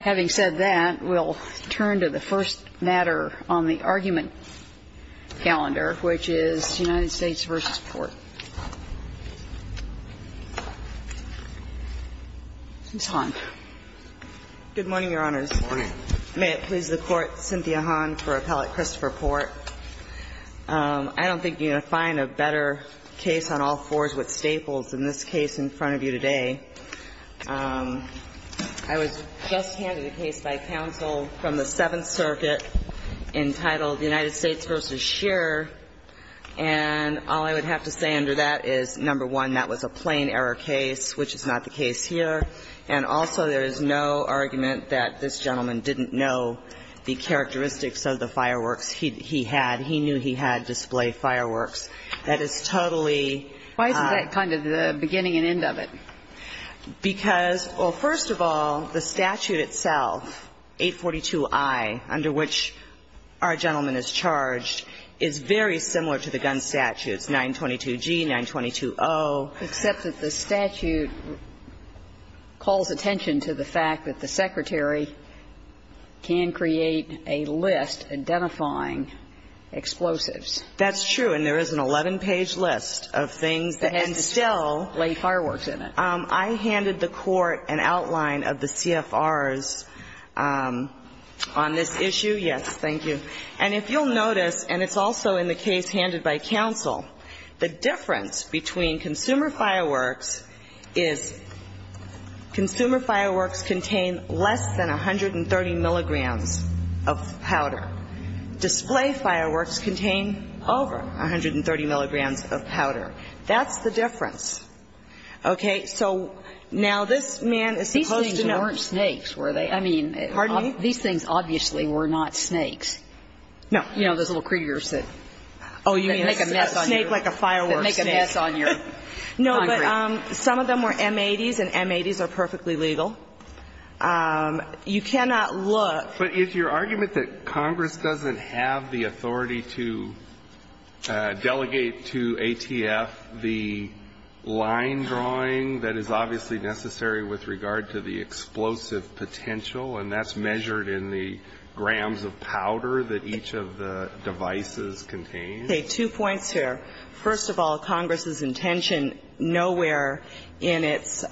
Having said that, we'll turn to the first matter on the argument calendar, which is United States v. Port. Ms. Hahn. Good morning, Your Honors. May it please the Court, Cynthia Hahn for Appellate Christopher Port. I don't think you're going to find a better case on all fours with staples than this case in front of you today. I was just handed a case by counsel from the Seventh Circuit entitled United States v. Scheer, and all I would have to say under that is, number one, that was a plain error case, which is not the case here, and also there is no argument that this gentleman didn't know the characteristics of the fireworks he had. He knew he had display fireworks. That is totally why is that kind of the beginning and end of it? Because, well, first of all, the statute itself, 842I, under which our gentleman is charged, is very similar to the gun statutes, 922G, 922O. Except that the statute calls attention to the fact that the Secretary can create a list identifying explosives. That's true, and there is an 11-page list of things that, and still – Display fireworks in it. I handed the Court an outline of the CFRs on this issue. Yes, thank you. And if you'll notice, and it's also in the case handed by counsel, the difference between consumer fireworks is consumer fireworks contain less than 130 milligrams of powder. Display fireworks contain over 130 milligrams of powder. That's the difference. Okay? So now this man is supposed to know – These things weren't snakes, were they? I mean – Pardon me? These things obviously were not snakes. No. You know, those little critters that – Oh, you mean snake like a firework snake. That make a mess on your concrete. No, but some of them were M80s, and M80s are perfectly legal. You cannot look – But is your argument that Congress doesn't have the authority to delegate to ATF the line drawing that is obviously necessary with regard to the explosive potential, and that's measured in the grams of powder that each of the devices contain? Okay, two points here. First of all, Congress's intention nowhere in its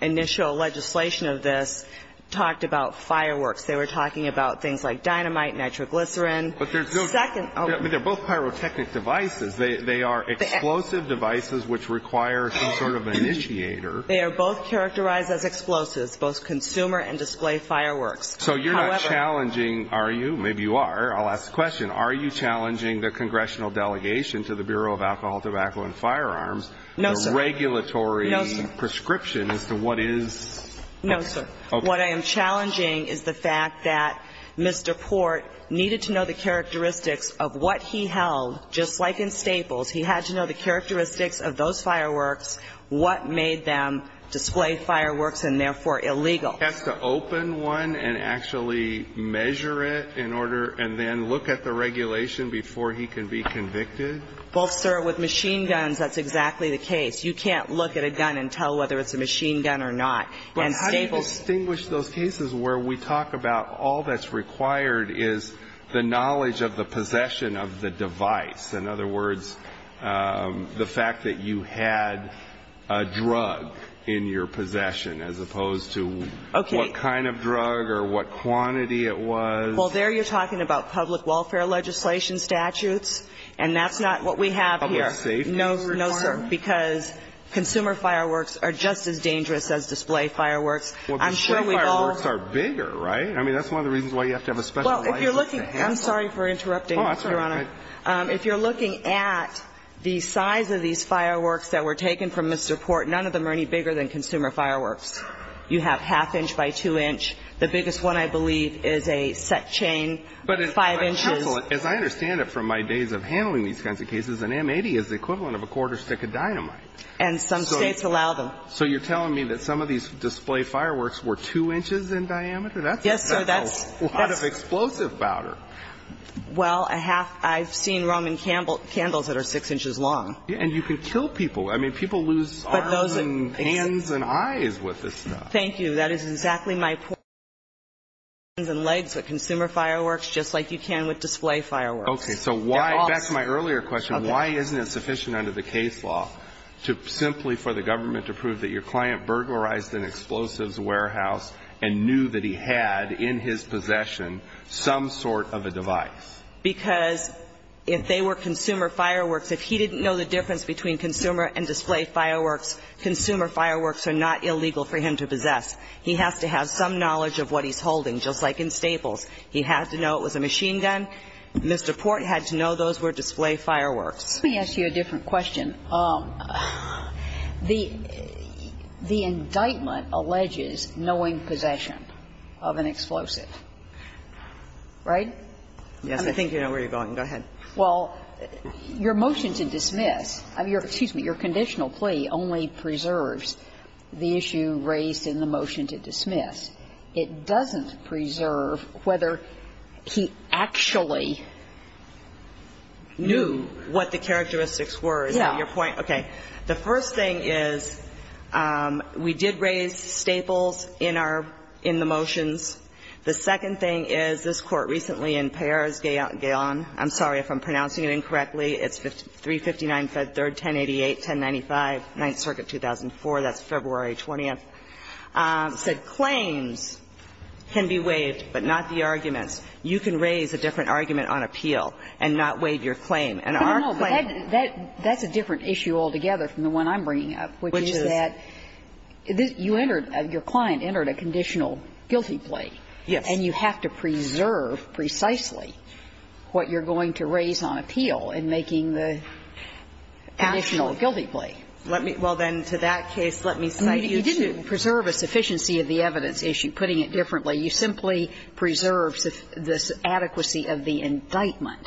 initial legislation of this talked about fireworks. They were talking about things like dynamite, nitroglycerin. But there's no – Second – I mean, they're both pyrotechnic devices. They are explosive devices which require some sort of initiator. They are both characterized as explosives, both consumer and display fireworks. So you're not challenging – are you? Maybe you are. I'll ask the question. Are you challenging the congressional delegation to the Bureau of Alcohol, Tobacco, and Firearms – No, sir. – the regulatory prescription as to what is – No, sir. What I am challenging is the fact that Mr. Port needed to know the characteristics of what he held, just like in Staples. He had to know the characteristics of those fireworks, what made them display fireworks and, therefore, illegal. Has to open one and actually measure it in order – and then look at the regulation before he can be convicted? Well, sir, with machine guns, that's exactly the case. You can't look at a gun and tell whether it's a machine gun or not. But how do you distinguish those cases where we talk about all that's required is the knowledge of the possession of the device? In other words, the fact that you had a drug in your possession, as opposed to what kind of drug or what quantity it was? Well, there you're talking about public welfare legislation statutes, and that's not what we have here. Public safety? No, sir, because consumer fireworks are just as dangerous as display fireworks. I'm sure we've all – Well, display fireworks are bigger, right? I mean, that's one of the reasons why you have to have a special license to handle them. Well, if you're looking – I'm sorry for interrupting, Your Honor. Oh, that's all right. If you're looking at the size of these fireworks that were taken from Mr. Port, none of them are any bigger than consumer fireworks. You have half inch by two inch. The biggest one, I believe, is a set chain five inches. But counsel, as I understand it from my days of handling these kinds of cases, an M-80 is the equivalent of a quarter stick of dynamite. And some states allow them. So you're telling me that some of these display fireworks were two inches in diameter? Yes, sir, that's – That's a lot of explosive powder. Well, I have – I've seen Roman candles that are six inches long. And you can kill people. I mean, people lose arms and hands and eyes with this stuff. Thank you. That is exactly my point. You can kill people's hands and legs with consumer fireworks just like you can with display fireworks. Okay. So why – that's my earlier question. Okay. Why isn't it sufficient under the case law to simply for the government to prove that your client burglarized an explosives warehouse and knew that he had in his possession some sort of a device? Because if they were consumer fireworks, if he didn't know the difference between consumer and display fireworks, consumer fireworks are not illegal for him to possess. He has to have some knowledge of what he's holding, just like in Staples. He had to know it was a machine gun. Mr. Port had to know those were display fireworks. Let me ask you a different question. The indictment alleges knowing possession of an explosive, right? Yes. I think you know where you're going. Go ahead. Well, your motion to dismiss – excuse me, your conditional plea only preserves the issue raised in the motion to dismiss. It doesn't preserve whether he actually knew what the characteristics were. Is that your point? Yeah. Okay. The first thing is we did raise Staples in our – in the motions. The second thing is this Court recently in Peyer v. Gayon – I'm sorry if I'm pronouncing it incorrectly. It's 359 Fed 3rd, 1088, 1095, Ninth Circuit, 2004. That's February 20th. Said claims can be waived, but not the arguments. You can raise a different argument on appeal and not waive your claim. And our claim – No, no. That's a different issue altogether from the one I'm bringing up, which is that you entered – your client entered a conditional guilty plea. Yes. And you have to preserve precisely what you're going to raise on appeal in making the conditional guilty plea. Well, then, to that case, let me cite you to – You didn't preserve a sufficiency of the evidence issue, putting it differently. You simply preserved this adequacy of the indictment.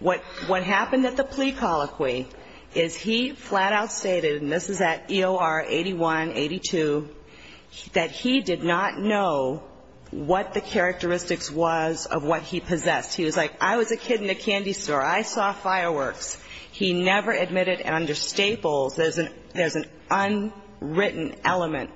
What happened at the plea colloquy is he flat-out stated – and this is at EOR 81, 82 – that he did not know what the characteristics was of what he possessed. He was like, I was a kid in a candy store. I saw fireworks. He never admitted under Staples. There's an – there's an unwritten element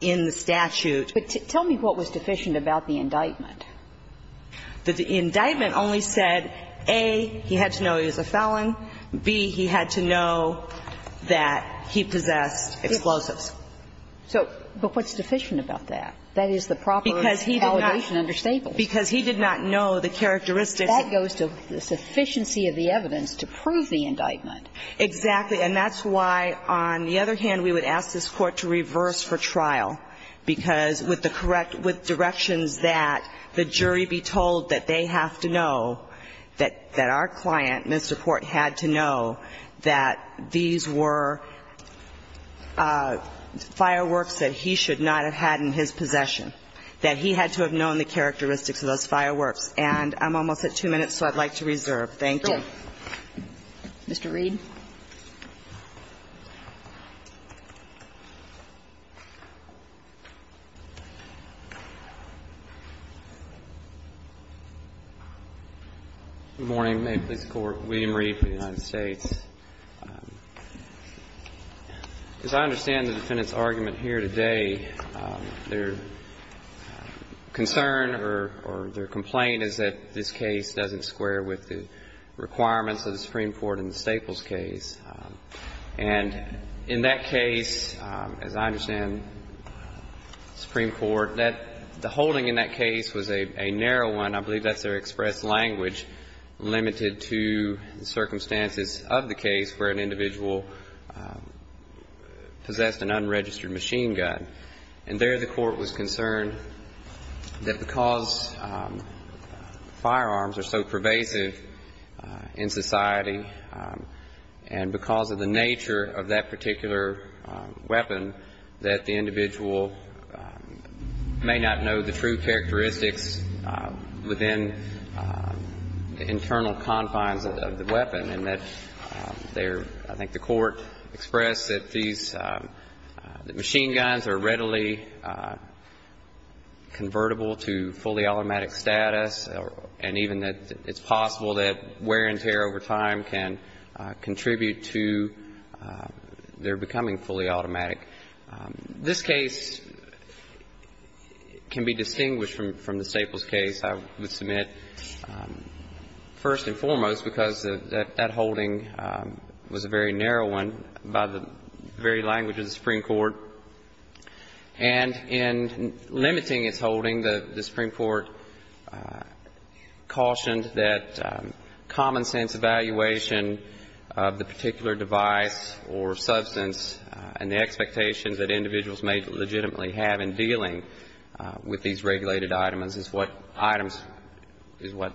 in the statute. But tell me what was deficient about the indictment. The indictment only said, A, he had to know he was a felon, B, he had to know that he possessed explosives. So – but what's deficient about that? That is the property of the allegation under Staples. Because he did not know the characteristics. That goes to the sufficiency of the evidence to prove the indictment. Exactly. And that's why, on the other hand, we would ask this Court to reverse for trial, because with the correct – with directions that the jury be told that they have to know that our client, Mr. Port, had to know that these were fireworks that he should not have had in his possession, that he had to have known the characteristics of those fireworks. And I'm almost at two minutes, so I'd like to reserve. Thank you. Mr. Reed. Good morning. May it please the Court. William Reed for the United States. As I understand the defendant's argument here today, their concern or their complaint is that this case doesn't square with the requirements of the Supreme Court in the Staples case. And in that case, as I understand the Supreme Court, that – the holding in that case was a narrow one. I believe that's their expressed language limited to the circumstances of the case where an individual possessed an unregistered machine gun. And there the Court was concerned that because firearms are so pervasive in society and because of the nature of that particular weapon, that the individual may not know the true characteristics within the internal confines of the weapon. And that they're – I think the Court expressed that these – that machine guns are readily convertible to fully automatic status, and even that it's possible that wear and tear over time can contribute to their becoming fully automatic. This case can be distinguished from the Staples case, I would submit, first and foremost because that holding was a very narrow one by the very language of the Supreme Court. And in limiting its holding, the Supreme Court cautioned that common sense evaluation of the particular device or substance and the expectations that individuals may legitimately have in dealing with these regulated items is what items – is what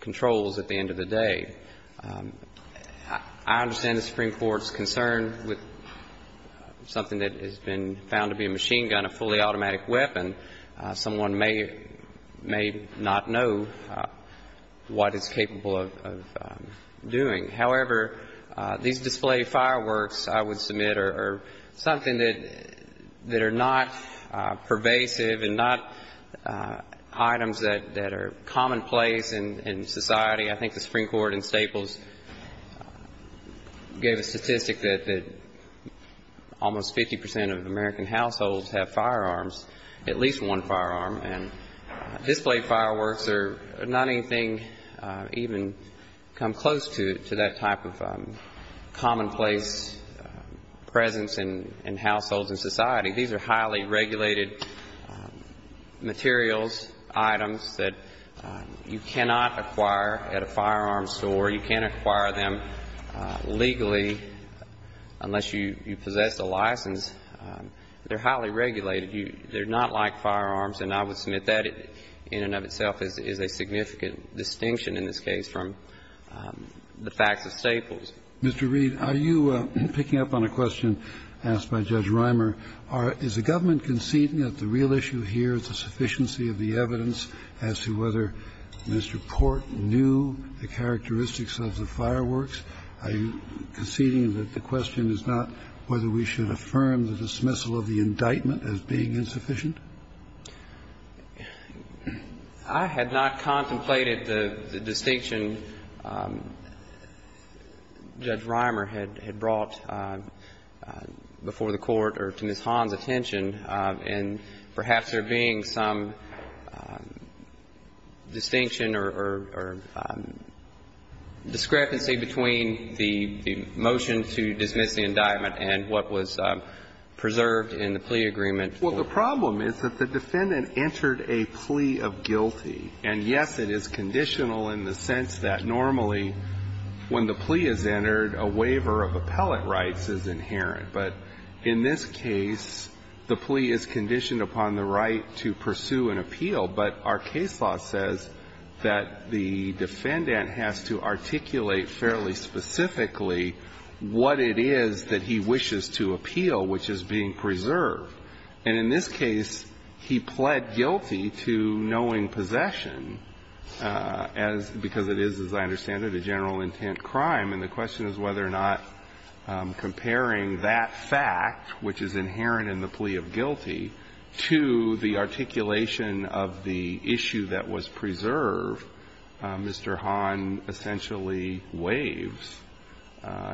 controls at the end of the day. I understand the Supreme Court's concern with something that has been found to be a machine gun, a fully automatic weapon. Someone may not know what it's capable of doing. However, these display fireworks, I would submit, are something that are not pervasive and not items that are commonplace in society. I think the Supreme Court in Staples gave a statistic that almost 50 percent of American households have firearms, at least one firearm. And display fireworks are not anything even come close to that type of commonplace presence in households and society. These are highly regulated materials, items that you cannot acquire at a firearms store. You can't acquire them legally unless you possess a license. They're highly regulated. They're not like firearms. And I would submit that in and of itself is a significant distinction in this case from the facts of Staples. Mr. Reed, are you picking up on a question asked by Judge Reimer? Are – is the government conceding that the real issue here is the sufficiency of the evidence as to whether Mr. Port knew the characteristics of the fireworks? Are you conceding that the question is not whether we should affirm the dismissal of the indictment as being insufficient? I had not contemplated the distinction Judge Reimer had brought before the Court or to Ms. Hahn's attention, and perhaps there being some distinction or discrepancy between the motion to dismiss the indictment and what was preserved in the plea agreement. Well, the problem is that the defendant entered a plea of guilty. And, yes, it is conditional in the sense that normally when the plea is entered, a waiver of appellate rights is inherent. But in this case, the plea is conditioned upon the right to pursue an appeal. But our case law says that the defendant has to articulate fairly specifically what it is that he wishes to appeal, which is being preserved. And in this case, he pled guilty to knowing possession as – because it is, as I understand it, a general intent crime. And the question is whether or not comparing that fact, which is inherent in the plea of guilty, to the articulation of the issue that was preserved, Mr. Hahn essentially waives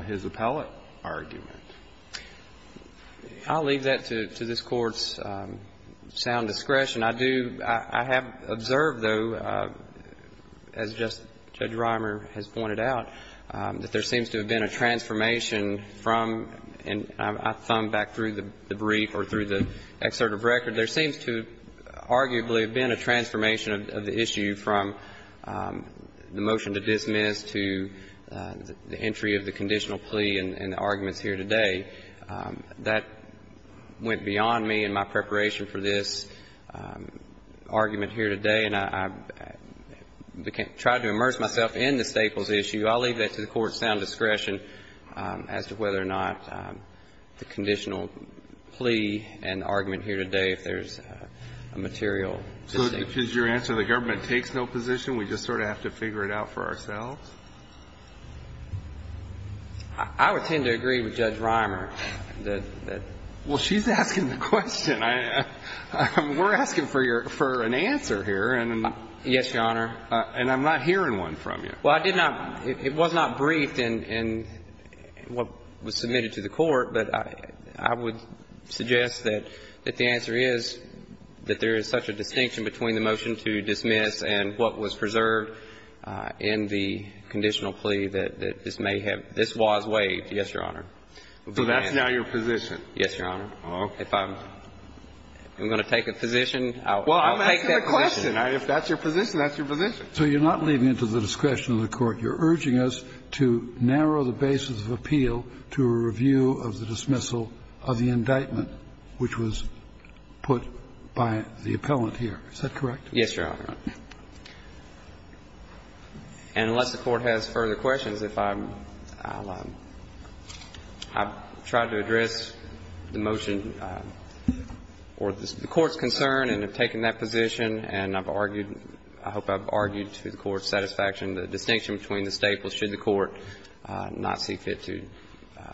his appellate argument. I'll leave that to this Court's sound discretion. I do – I have observed, though, as just Judge Reimer has pointed out, that there seems to have been a transformation from – and I thumbed back through the brief or through the excerpt of record – there seems to arguably have been a transformation of the issue from the motion to dismiss to the entry of the conditional plea and the arguments here today. That went beyond me in my preparation for this argument here today, and I tried to immerse myself in the Staples issue. I'll leave that to the Court's sound discretion as to whether or not the conditional plea and argument here today, if there's a material distinction. If I'm to be asking a question, which is your answer, the government takes no position, we just sort of have to figure it out for ourselves? I would tend to agree with Judge Reimer. Well, she's asking the question. I – we're asking for your – for an answer here. And – Yes, Your Honor. And I'm not hearing one from you. Well, I did not – it was not briefed in what was submitted to the Court, but I would suggest that the answer is that there is such a distinction between the motion to dismiss and what was preserved in the conditional plea that this may have – this was waived. Yes, Your Honor. So that's now your position? Yes, Your Honor. Oh. If I'm going to take a position, I'll take that position. Well, I'm asking the question. If that's your position, that's your position. So you're not leaving it to the discretion of the Court. You're urging us to narrow the basis of appeal to a review of the dismissal of the indictment, which was put by the appellant here. Is that correct? Yes, Your Honor. And unless the Court has further questions, if I'm – I'll – I've tried to address the motion or the Court's concern and have taken that position, and I've argued to the Court's satisfaction, the distinction between the staples should the Court not see fit to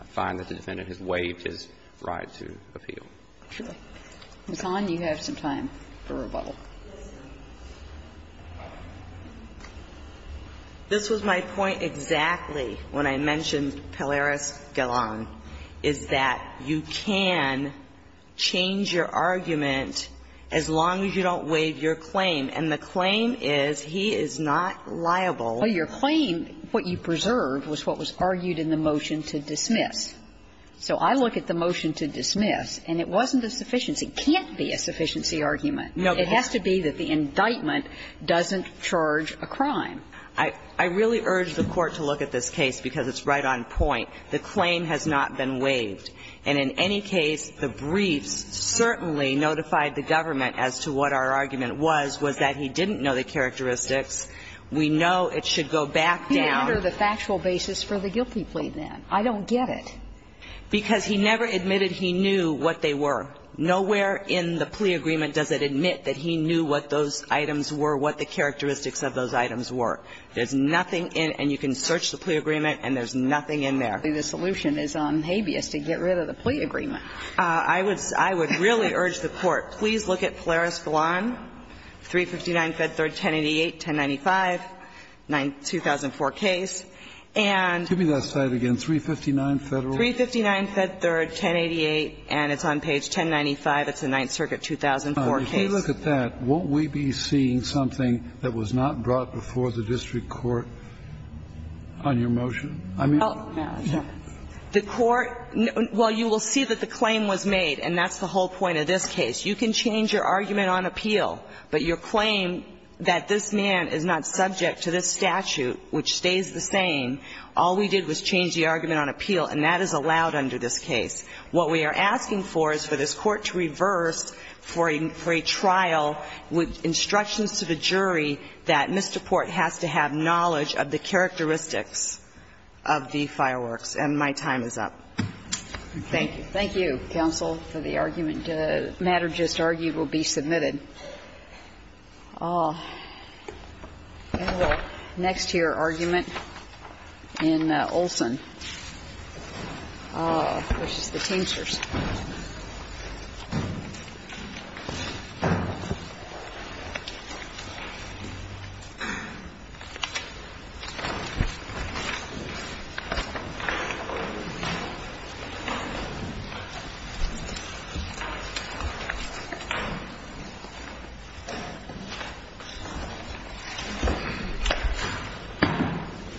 find that the defendant has waived his right to appeal. Ms. Hahn, you have some time for rebuttal. This was my point exactly when I mentioned Pilares-Gallon, is that you can change your argument as long as you don't waive your claim, and the claim is he is not liable. Well, your claim, what you preserved, was what was argued in the motion to dismiss. So I look at the motion to dismiss, and it wasn't a sufficiency. It can't be a sufficiency argument. No, but it's – It has to be that the indictment doesn't charge a crime. I really urge the Court to look at this case because it's right on point. The claim has not been waived. And in any case, the briefs certainly notified the government as to what our argument was, was that he didn't know the characteristics. We know it should go back down. You wonder the factual basis for the guilty plea, then. I don't get it. Because he never admitted he knew what they were. Nowhere in the plea agreement does it admit that he knew what those items were, what the characteristics of those items were. There's nothing in – and you can search the plea agreement, and there's nothing in there. And certainly, the solution is on habeas to get rid of the plea agreement. I would – I would really urge the Court, please look at Polaris-Vilan 359, Fed 3rd, 1088, 1095, 2004 case, and – Give me that slide again. 359 Federal? 359 Fed 3rd, 1088, and it's on page 1095. It's the Ninth Circuit, 2004 case. Now, if you look at that, won't we be seeing something that was not brought before the district court on your motion? I mean – Well, the Court – well, you will see that the claim was made, and that's the whole point of this case. You can change your argument on appeal, but your claim that this man is not subject to this statute, which stays the same, all we did was change the argument on appeal, and that is allowed under this case. What we are asking for is for this Court to reverse for a trial with instructions to the jury that Mr. Port has to have knowledge of the characteristics of the fireworks, and my time is up. Thank you. Thank you, counsel, for the argument. The matter just argued will be submitted. Next to your argument in Olson, which is the Teamsters. Next to your argument in Olson, which is the Teamsters.